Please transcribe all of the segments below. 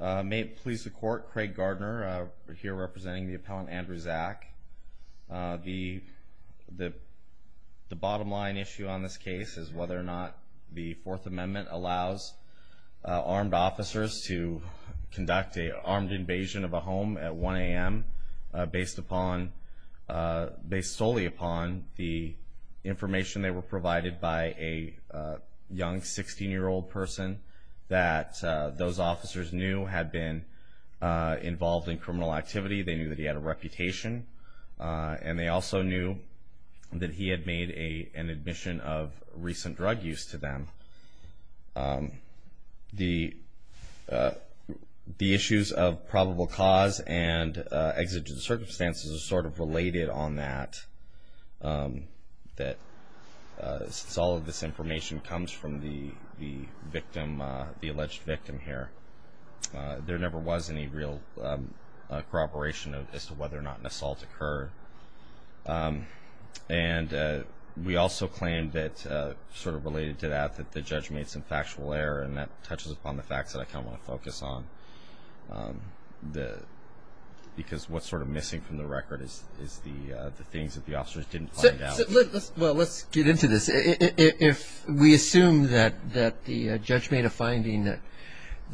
May it please the court, Craig Gardner here representing the appellant Andrew Zack. The bottom line issue on this case is whether or not the Fourth Amendment allows armed officers to conduct an armed invasion of a home at 1 a.m. based solely upon the information they were provided by a young 16-year-old person that those officers knew had been involved in criminal activity. They knew that he had a reputation and they also knew that he had made an admission of recent drug use to them. The issues of probable cause and exigent circumstances are sort of related on that. All of this information comes from the victim, the alleged victim here. There never was any real corroboration as to whether or not an assault occurred. And we also claim that sort of related to that that the judge made some factual error and that touches upon the facts that I kind of want to focus on. Because what's sort of missing from the record is the things that the officers didn't find out. Well, let's get into this. If we assume that the judge made a finding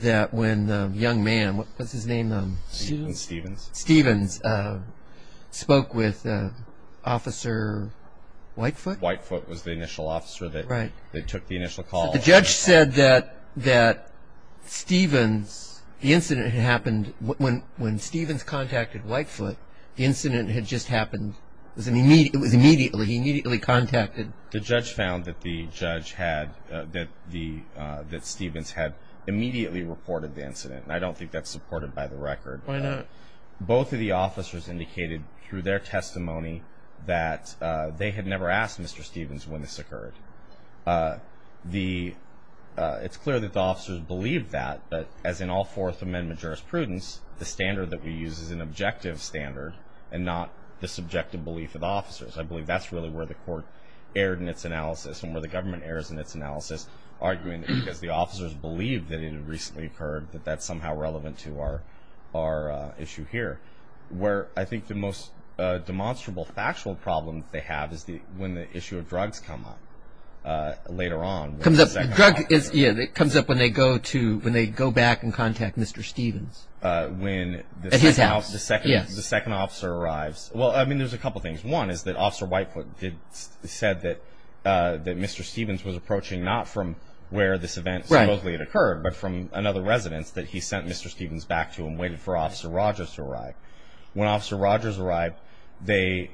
that when the young man, what was his name? Stevens. Stevens spoke with Officer Whitefoot. Whitefoot was the initial officer that took the initial call. The judge said that Stevens, the incident that happened when Stevens contacted Whitefoot, the incident had just happened. It was immediately, he immediately contacted. The judge found that the judge had, that Stevens had immediately reported the incident. I don't think that's supported by the record. Why not? Both of the officers indicated through their testimony that they had never asked Mr. Stevens when this occurred. It's clear that the officers believed that. But as in all Fourth Amendment jurisprudence, the standard that we use is an objective standard and not the subjective belief of the officers. I believe that's really where the court erred in its analysis and where the government errs in its analysis, arguing that because the officers believed that it had recently occurred that that's somehow relevant to our issue here. I think the most demonstrable factual problem that they have is when the issue of drugs come up later on. Drugs comes up when they go back and contact Mr. Stevens. When the second officer arrives. Well, I mean, there's a couple of things. One is that Officer Whitefoot said that Mr. Stevens was approaching not from where this event supposedly had occurred, but from another residence that he sent Mr. Stevens back to and waited for Officer Rogers to arrive. When Officer Rogers arrived, they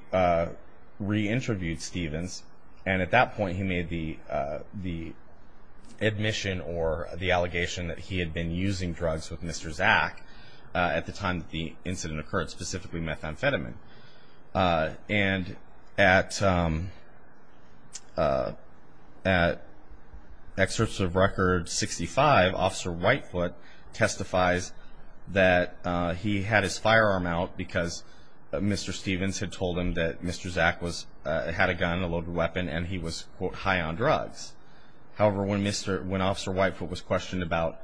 re-interviewed Stevens, and at that point he made the admission or the allegation that he had been using drugs with Mr. Zack at the time that the incident occurred, specifically methamphetamine. And at excerpts of Record 65, Officer Whitefoot testifies that he had his firearm out because Mr. Stevens had told him that Mr. Zack had a gun, a loaded weapon, and he was, quote, high on drugs. However, when Officer Whitefoot was questioned about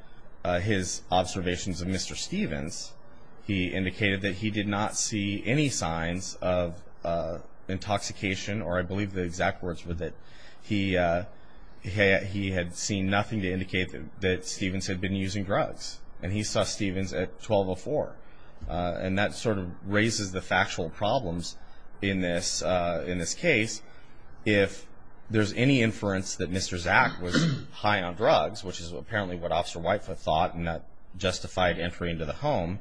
his observations of Mr. Stevens, he indicated that he did not see any signs of intoxication, or I believe the exact words were that he had seen nothing to indicate that Stevens had been using drugs, and he saw Stevens at 12.04. And that sort of raises the factual problems in this case. If there's any inference that Mr. Zack was high on drugs, which is apparently what Officer Whitefoot thought, and that justified entry into the home,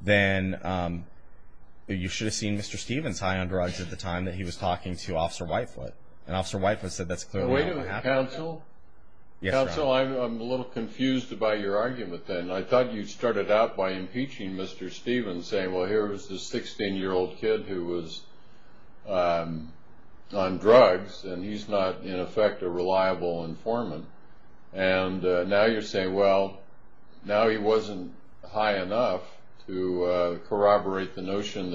then you should have seen Mr. Stevens high on drugs at the time that he was talking to Officer Whitefoot. And Officer Whitefoot said that's clearly not what happened. Wait a minute, counsel. Yes, Ron. Counsel, I'm a little confused about your argument then. I thought you started out by impeaching Mr. Stevens, saying, well, here was this 16-year-old kid who was on drugs, and he's not, in effect, a reliable informant. And now you're saying, well, now he wasn't high enough to corroborate the notion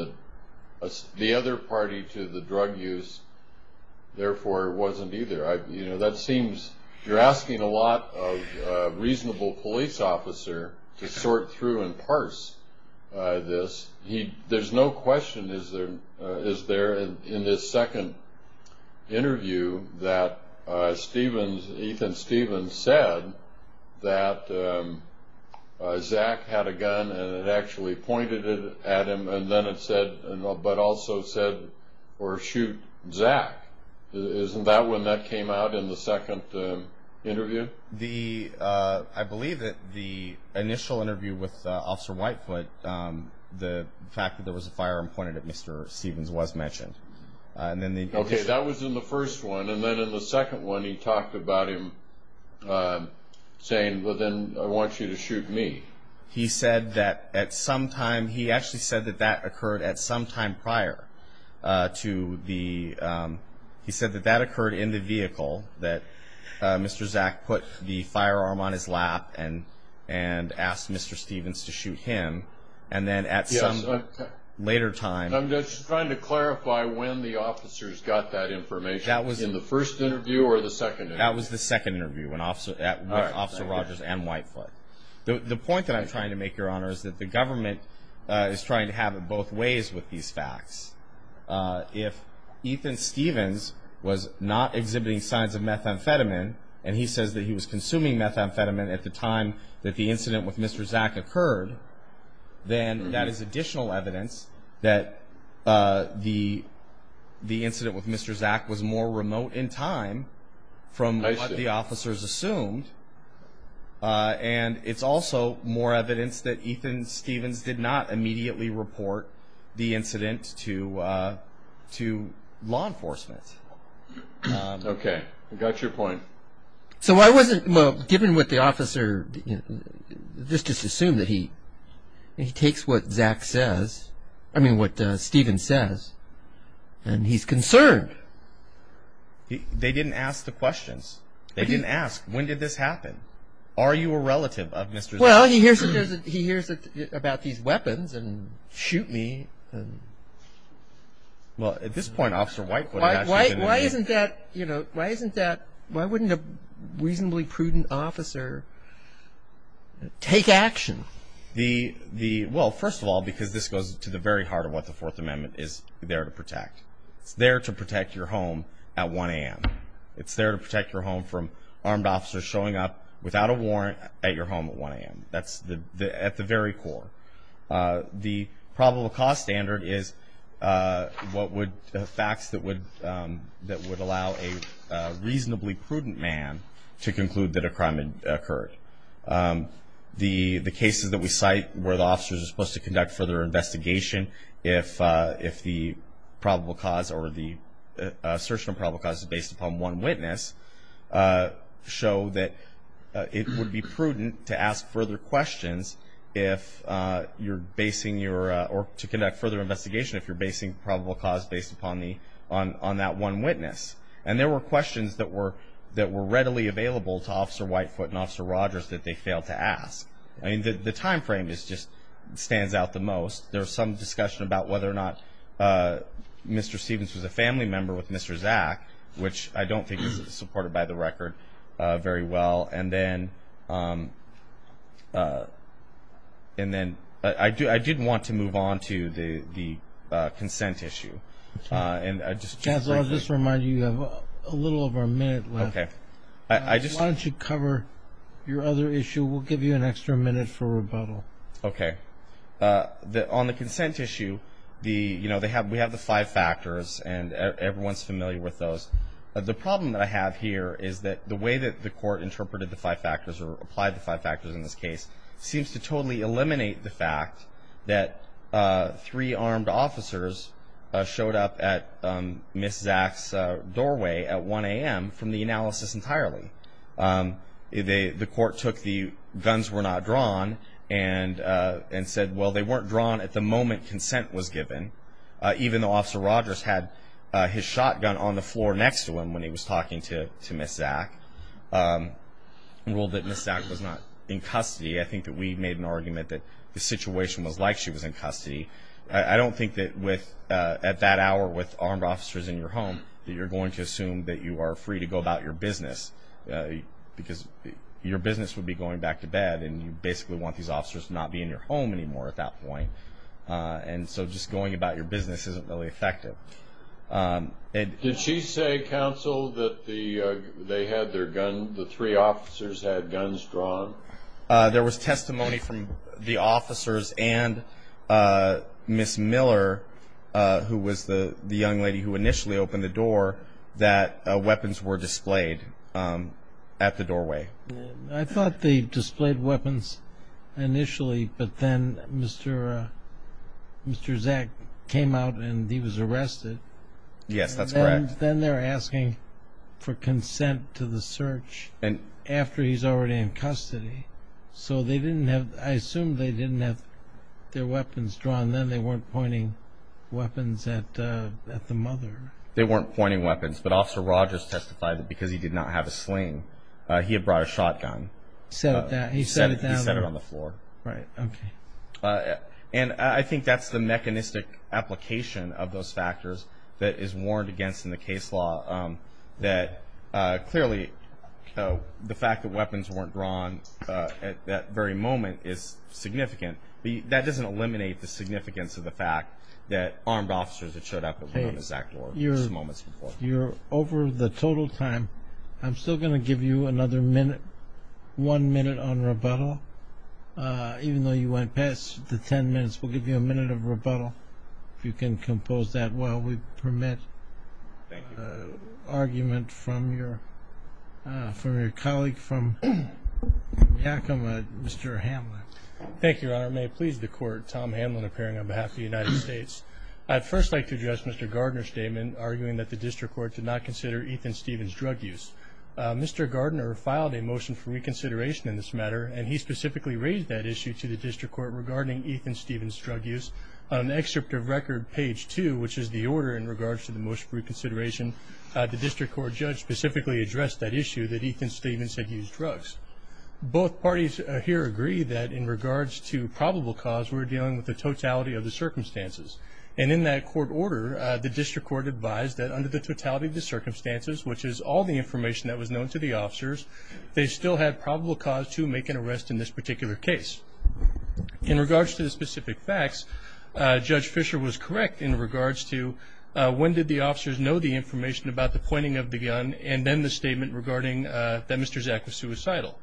that the other party to the drug use, therefore, wasn't either. That seems you're asking a lot of a reasonable police officer to sort through and parse this. There's no question, is there, in this second interview, that Ethan Stevens said that Zack had a gun and it actually pointed at him, but also said, or shoot Zack. Isn't that when that came out in the second interview? I believe that the initial interview with Officer Whitefoot, the fact that there was a firearm pointed at Mr. Stevens was mentioned. Okay, that was in the first one. And then in the second one he talked about him saying, well, then I want you to shoot me. He said that at some time, he actually said that that occurred at some time prior to the, he said that that occurred in the vehicle, that Mr. Zack put the firearm on his lap and asked Mr. Stevens to shoot him. And then at some later time. I'm just trying to clarify when the officers got that information. That was in the first interview or the second interview? That was the second interview with Officer Rogers and Whitefoot. The point that I'm trying to make, Your Honor, is that the government is trying to have it both ways with these facts. If Ethan Stevens was not exhibiting signs of methamphetamine, and he says that he was consuming methamphetamine at the time that the incident with Mr. Zack occurred, then that is additional evidence that the incident with Mr. Zack was more remote in time from what the officers assumed. And it's also more evidence that Ethan Stevens did not immediately report the incident to law enforcement. Okay. I got your point. So I wasn't, well, given what the officer, just assume that he takes what Zack says, I mean what Steven says, and he's concerned. They didn't ask the questions. They didn't ask, when did this happen? Are you a relative of Mr. Zack? Well, he hears about these weapons and shoot me. Well, at this point, Officer Whitefoot would have actually been in there. Why isn't that, you know, why wouldn't a reasonably prudent officer take action? Well, first of all, because this goes to the very heart of what the Fourth Amendment is there to protect. It's there to protect your home at 1 a.m. It's there to protect your home from armed officers showing up without a warrant at your home at 1 a.m. That's at the very core. The probable cause standard is facts that would allow a reasonably prudent man to conclude that a crime had occurred. The cases that we cite where the officers are supposed to conduct further investigation if the probable cause or the search for probable cause is based upon one witness show that it would be prudent to ask further questions if you're basing your, or to conduct further investigation if you're basing probable cause based upon that one witness. And there were questions that were readily available to Officer Whitefoot and Officer Rogers that they failed to ask. I mean, the time frame just stands out the most. There was some discussion about whether or not Mr. Stevens was a family member with Mr. Zack, which I don't think is supported by the record very well. And then I did want to move on to the consent issue. And I'll just bring it up. I'll just remind you, you have a little over a minute left. Okay. Why don't you cover your other issue? We'll give you an extra minute for rebuttal. Okay. On the consent issue, we have the five factors, and everyone's familiar with those. The problem that I have here is that the way that the court interpreted the five factors or applied the five factors in this case seems to totally eliminate the fact that three armed officers showed up at Ms. Zack's doorway at 1 a.m. from the analysis entirely. The court took the guns were not drawn and said, well, they weren't drawn at the moment consent was given, even though Officer Rogers had his shotgun on the floor next to him when he was talking to Ms. Zack, and ruled that Ms. Zack was not in custody. I think that we made an argument that the situation was like she was in custody. I don't think that at that hour with armed officers in your home that you're going to assume that you are free to go about your business because your business would be going back to bed, and you basically want these officers to not be in your home anymore at that point. And so just going about your business isn't really effective. Did she say, counsel, that they had their gun, the three officers had guns drawn? There was testimony from the officers and Ms. Miller, who was the young lady who initially opened the door, that weapons were displayed at the doorway. I thought they displayed weapons initially, but then Mr. Zack came out and he was arrested. Yes, that's correct. Then they're asking for consent to the search after he's already in custody. So they didn't have, I assume they didn't have their weapons drawn. Then they weren't pointing weapons at the mother. They weren't pointing weapons. But Officer Rogers testified that because he did not have a sling, he had brought a shotgun. He set it down? He set it on the floor. Right, okay. And I think that's the mechanistic application of those factors that is warned against in the case law, that clearly the fact that weapons weren't drawn at that very moment is significant. That doesn't eliminate the significance of the fact that armed officers had showed up at Ms. Zack's door just moments before. You're over the total time. I'm still going to give you another minute, one minute on rebuttal. Even though you went past the ten minutes, we'll give you a minute of rebuttal, if you can compose that well. We permit argument from your colleague from Yakima, Mr. Hamlet. Thank you, Your Honor. May it please the Court, Tom Hamlet appearing on behalf of the United States. I'd first like to address Mr. Gardner's statement, arguing that the district court did not consider Ethan Stevens' drug use. Mr. Gardner filed a motion for reconsideration in this matter, and he specifically raised that issue to the district court regarding Ethan Stevens' drug use. On the excerpt of record, page two, which is the order in regards to the motion for reconsideration, the district court judge specifically addressed that issue, that Ethan Stevens had used drugs. Both parties here agree that in regards to probable cause, we're dealing with the totality of the circumstances. And in that court order, the district court advised that under the totality of the circumstances, which is all the information that was known to the officers, they still had probable cause to make an arrest in this particular case. In regards to the specific facts, Judge Fisher was correct in regards to when did the officers know the information about the pointing of the gun and then the statement regarding that Mr. Zak was suicidal.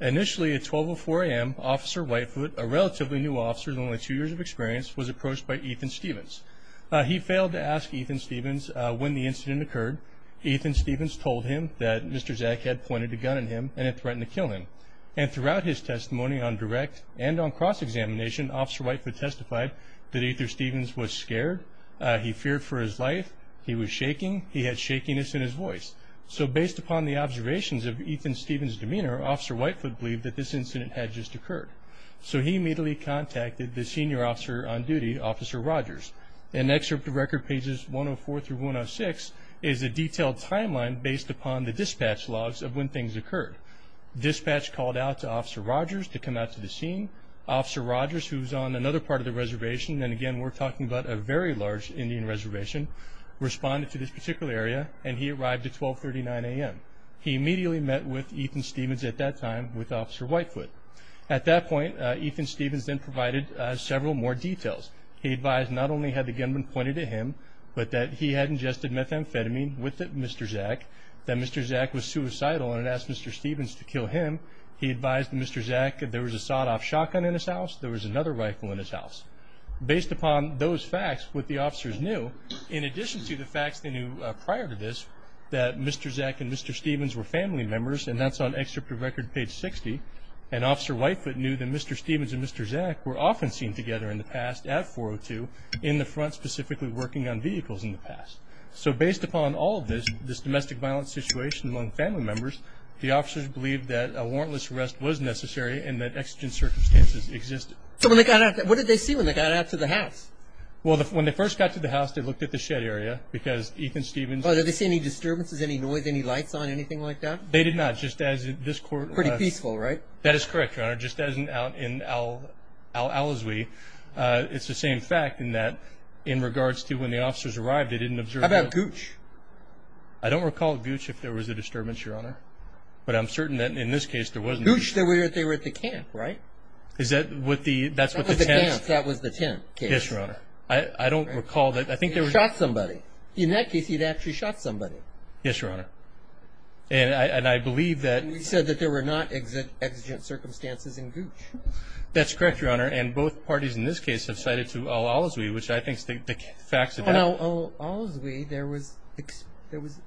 Initially at 12.04 a.m., Officer Whitefoot, a relatively new officer with only two years of experience, was approached by Ethan Stevens. He failed to ask Ethan Stevens when the incident occurred. Ethan Stevens told him that Mr. Zak had pointed a gun at him and had threatened to kill him. And throughout his testimony on direct and on cross-examination, Officer Whitefoot testified that Ethan Stevens was scared. He feared for his life. He was shaking. He had shakiness in his voice. So based upon the observations of Ethan Stevens' demeanor, Officer Whitefoot believed that this incident had just occurred. So he immediately contacted the senior officer on duty, Officer Rogers. In excerpt of record pages 104 through 106 is a detailed timeline based upon the dispatch logs of when things occurred. Dispatch called out to Officer Rogers to come out to the scene. Officer Rogers, who's on another part of the reservation, and again we're talking about a very large Indian reservation, responded to this particular area, and he arrived at 12.39 a.m. He immediately met with Ethan Stevens at that time with Officer Whitefoot. At that point, Ethan Stevens then provided several more details. He advised not only had the gun been pointed at him, but that he had ingested methamphetamine with Mr. Zak, that Mr. Zak was suicidal and had asked Mr. Stevens to kill him. He advised Mr. Zak that there was a sawed-off shotgun in his house, there was another rifle in his house. Based upon those facts, what the officers knew, in addition to the facts they knew prior to this, that Mr. Zak and Mr. Stevens were family members, and that's on excerpt of record page 60, and Officer Whitefoot knew that Mr. Stevens and Mr. Zak were often seen together in the past at 402, in the front specifically working on vehicles in the past. So based upon all of this, this domestic violence situation among family members, the officers believed that a warrantless arrest was necessary and that exigent circumstances existed. So when they got out, what did they see when they got out to the house? Well, when they first got to the house, they looked at the shed area because Ethan Stevens – Well, did they see any disturbances, any noise, any lights on, anything like that? They did not, just as in this court – Pretty peaceful, right? That is correct, Your Honor, just as in Al-Azwi. It's the same fact in that in regards to when the officers arrived, they didn't observe – How about Gooch? I don't recall Gooch if there was a disturbance, Your Honor, but I'm certain that in this case there wasn't. Gooch, they were at the camp, right? Is that what the – That was the camp. Yes, Your Honor. I don't recall that. I think there was – He shot somebody. In that case, he'd actually shot somebody. Yes, Your Honor, and I believe that – You said that there were not exigent circumstances in Gooch. That's correct, Your Honor, and both parties in this case have cited to Al-Azwi, which I think the facts of that – In Al-Azwi, there was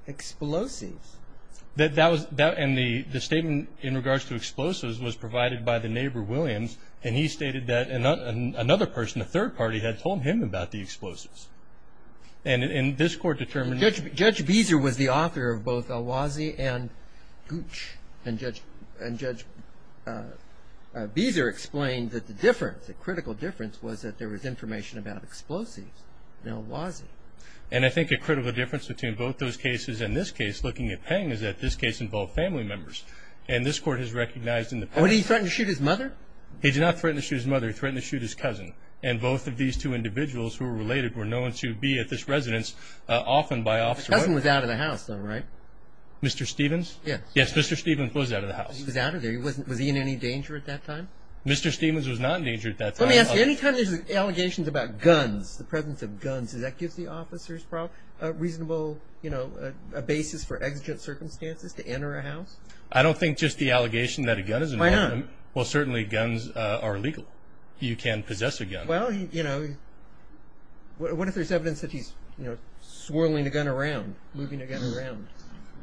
explosives. That was – and the statement in regards to explosives was provided by the neighbor, Williams, and he stated that another person, a third party, had told him about the explosives. And this court determined – Judge Beezer was the author of both Al-Azwi and Gooch, and Judge Beezer explained that the difference, the critical difference, was that there was information about explosives in Al-Azwi. And I think a critical difference between both those cases and this case, looking at Peng, is that this case involved family members, and this court has recognized in the – What, did he threaten to shoot his mother? He did not threaten to shoot his mother. He threatened to shoot his cousin, and both of these two individuals who were related were known to be at this residence, often by Officer Williams. The cousin was out of the house, though, right? Mr. Stephens? Yes. Yes, Mr. Stephens was out of the house. Was he in any danger at that time? Mr. Stephens was not in danger at that time. Let me ask you, any time there's allegations about guns, the presence of guns, does that give the officers a reasonable basis for exigent circumstances to enter a house? I don't think just the allegation that a gun is involved in – Why not? Well, certainly guns are illegal. You can possess a gun. Well, you know, what if there's evidence that he's swirling a gun around, moving a gun around?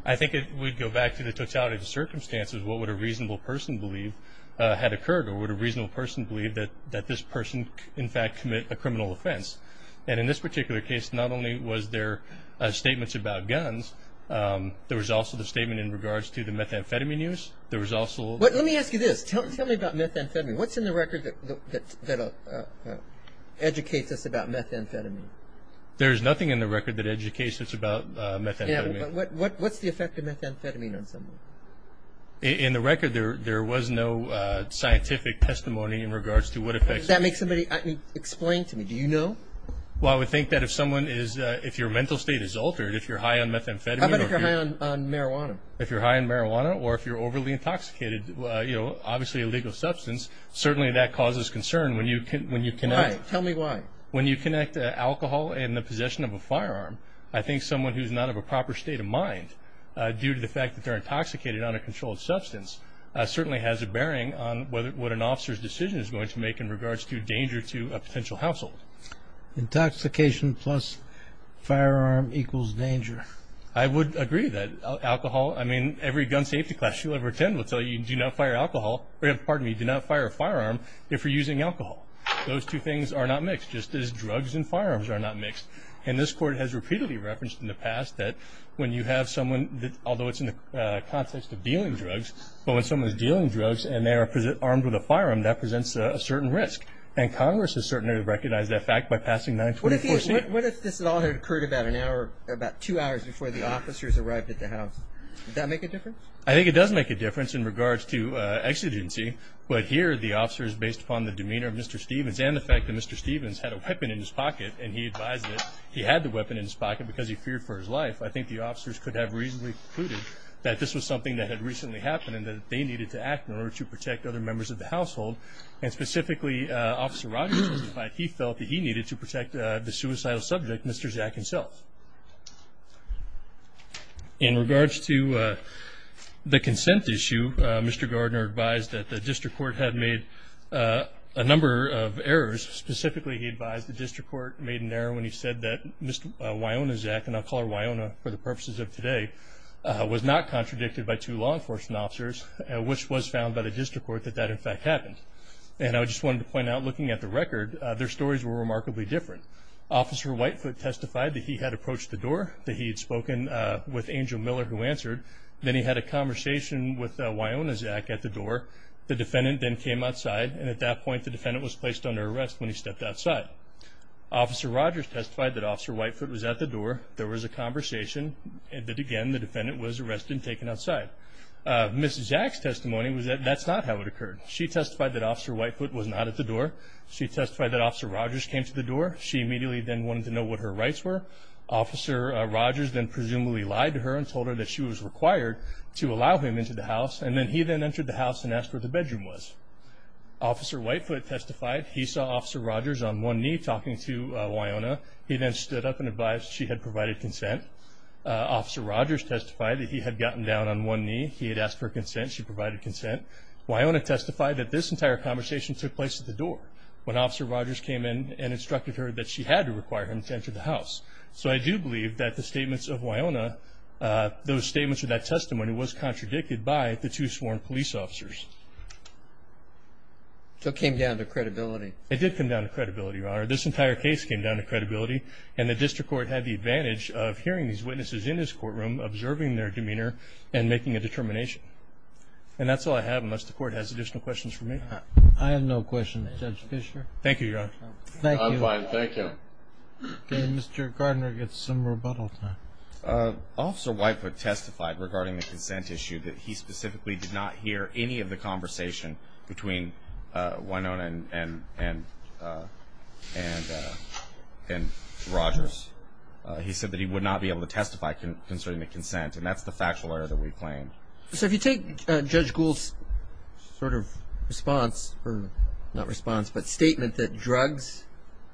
I think it would go back to the totality of the circumstances. What would a reasonable person believe had occurred, or would a reasonable person believe that this person, in fact, commit a criminal offense? And in this particular case, not only was there statements about guns, there was also the statement in regards to the methamphetamine use. There was also – Let me ask you this. Tell me about methamphetamine. What's in the record that educates us about methamphetamine? There is nothing in the record that educates us about methamphetamine. What's the effect of methamphetamine on someone? In the record, there was no scientific testimony in regards to what effects methamphetamine – Does that make somebody – explain to me. Do you know? Well, I would think that if someone is – if your mental state is altered, if you're high on methamphetamine – How about if you're high on marijuana? If you're high on marijuana or if you're overly intoxicated, you know, obviously a legal substance, certainly that causes concern when you connect – Why? Tell me why. When you connect alcohol and the possession of a firearm, I think someone who's not of a proper state of mind due to the fact that they're intoxicated on a controlled substance certainly has a bearing on what an officer's decision is going to make in regards to danger to a potential household. Intoxication plus firearm equals danger. I would agree that alcohol – I mean, every gun safety class you'll ever attend will tell you do not fire alcohol – pardon me, do not fire a firearm if you're using alcohol. Those two things are not mixed, just as drugs and firearms are not mixed. And this Court has repeatedly referenced in the past that when you have someone – although it's in the context of dealing drugs, but when someone is dealing drugs and they are armed with a firearm, that presents a certain risk. And Congress has certainly recognized that fact by passing 924C. What if this all had occurred about an hour – about two hours before the officers arrived at the house? Would that make a difference? I think it does make a difference in regards to exigency, but here the officers, based upon the demeanor of Mr. Stevens and the fact that Mr. Stevens had a weapon in his pocket and he advised that he had the weapon in his pocket because he feared for his life, I think the officers could have reasonably concluded that this was something that had recently happened and that they needed to act in order to protect other members of the household. And specifically, Officer Rodgers testified he felt that he needed to protect the suicidal subject, Mr. Jack himself. In regards to the consent issue, Mr. Gardner advised that the District Court had made a number of errors. Specifically, he advised the District Court made an error when he said that Mr. Wionazak, and I'll call her Wiona for the purposes of today, was not contradicted by two law enforcement officers, which was found by the District Court that that, in fact, happened. And I just wanted to point out, looking at the record, their stories were remarkably different. Officer Whitefoot testified that he had approached the door, that he had spoken with Angel Miller, who answered. Then he had a conversation with Wionazak at the door. The defendant then came outside, and at that point, the defendant was placed under arrest when he stepped outside. Officer Rodgers testified that Officer Whitefoot was at the door. There was a conversation, and again, the defendant was arrested and taken outside. Mrs. Jack's testimony was that that's not how it occurred. She testified that Officer Whitefoot was not at the door. She testified that Officer Rodgers came to the door. She immediately then wanted to know what her rights were. Officer Rodgers then presumably lied to her and told her that she was required to allow him into the house, and then he then entered the house and asked where the bedroom was. Officer Whitefoot testified he saw Officer Rodgers on one knee talking to Wiona. He then stood up and advised she had provided consent. Officer Rodgers testified that he had gotten down on one knee. He had asked for consent. She provided consent. Wiona testified that this entire conversation took place at the door when Officer Rodgers came in and instructed her that she had to require him to enter the house. So I do believe that the statements of Wiona, those statements of that testimony, was contradicted by the two sworn police officers. So it came down to credibility. It did come down to credibility, Your Honor. This entire case came down to credibility, and the district court had the advantage of hearing these witnesses in this courtroom, observing their demeanor, and making a determination. And that's all I have unless the court has additional questions for me. I have no questions. Judge Fischer? Thank you, Your Honor. I'm fine, thank you. Mr. Gardner gets some rebuttal time. Officer Whitefoot testified regarding the consent issue that he specifically did not hear any of the conversation between Wiona and Rodgers. He said that he would not be able to testify concerning the consent, and that's the factual error that we claim. So if you take Judge Gould's sort of response, or not response, but statement that drugs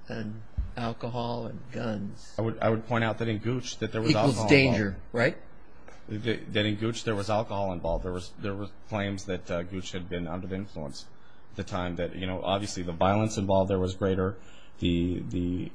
and alcohol and guns. I would point out that in Gooch that there was alcohol involved. Equals danger, right? That in Gooch there was alcohol involved. There were claims that Gooch had been under the influence at the time that, you know, obviously the violence involved there was greater. The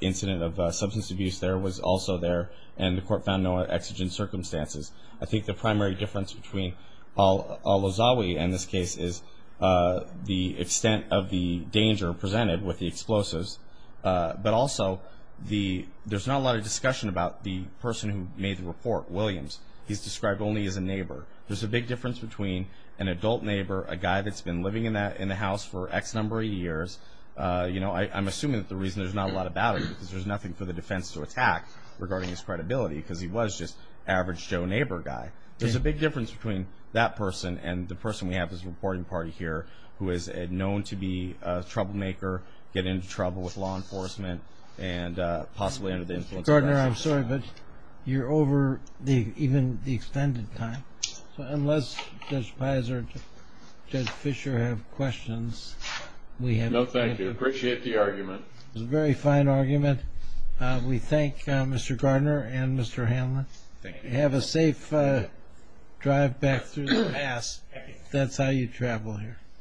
incident of substance abuse there was also there, and the court found no exigent circumstances. I think the primary difference between Olozawi and this case is the extent of the danger presented with the explosives, but also there's not a lot of discussion about the person who made the report, Williams. He's described only as a neighbor. There's a big difference between an adult neighbor, a guy that's been living in the house for X number of years. You know, I'm assuming that the reason there's not a lot of battle is because there's nothing for the defense to attack regarding his credibility, because he was just average Joe neighbor guy. There's a big difference between that person and the person we have as a reporting party here who is known to be a troublemaker, get into trouble with law enforcement, and possibly under the influence of alcohol. Gardner, I'm sorry, but you're over even the extended time, so unless Judge Peyser and Judge Fischer have questions, we have no time. No, thank you. I appreciate the argument. It was a very fine argument. We thank Mr. Gardner and Mr. Hanlon. Thank you. Have a safe drive back through the pass. That's how you travel here.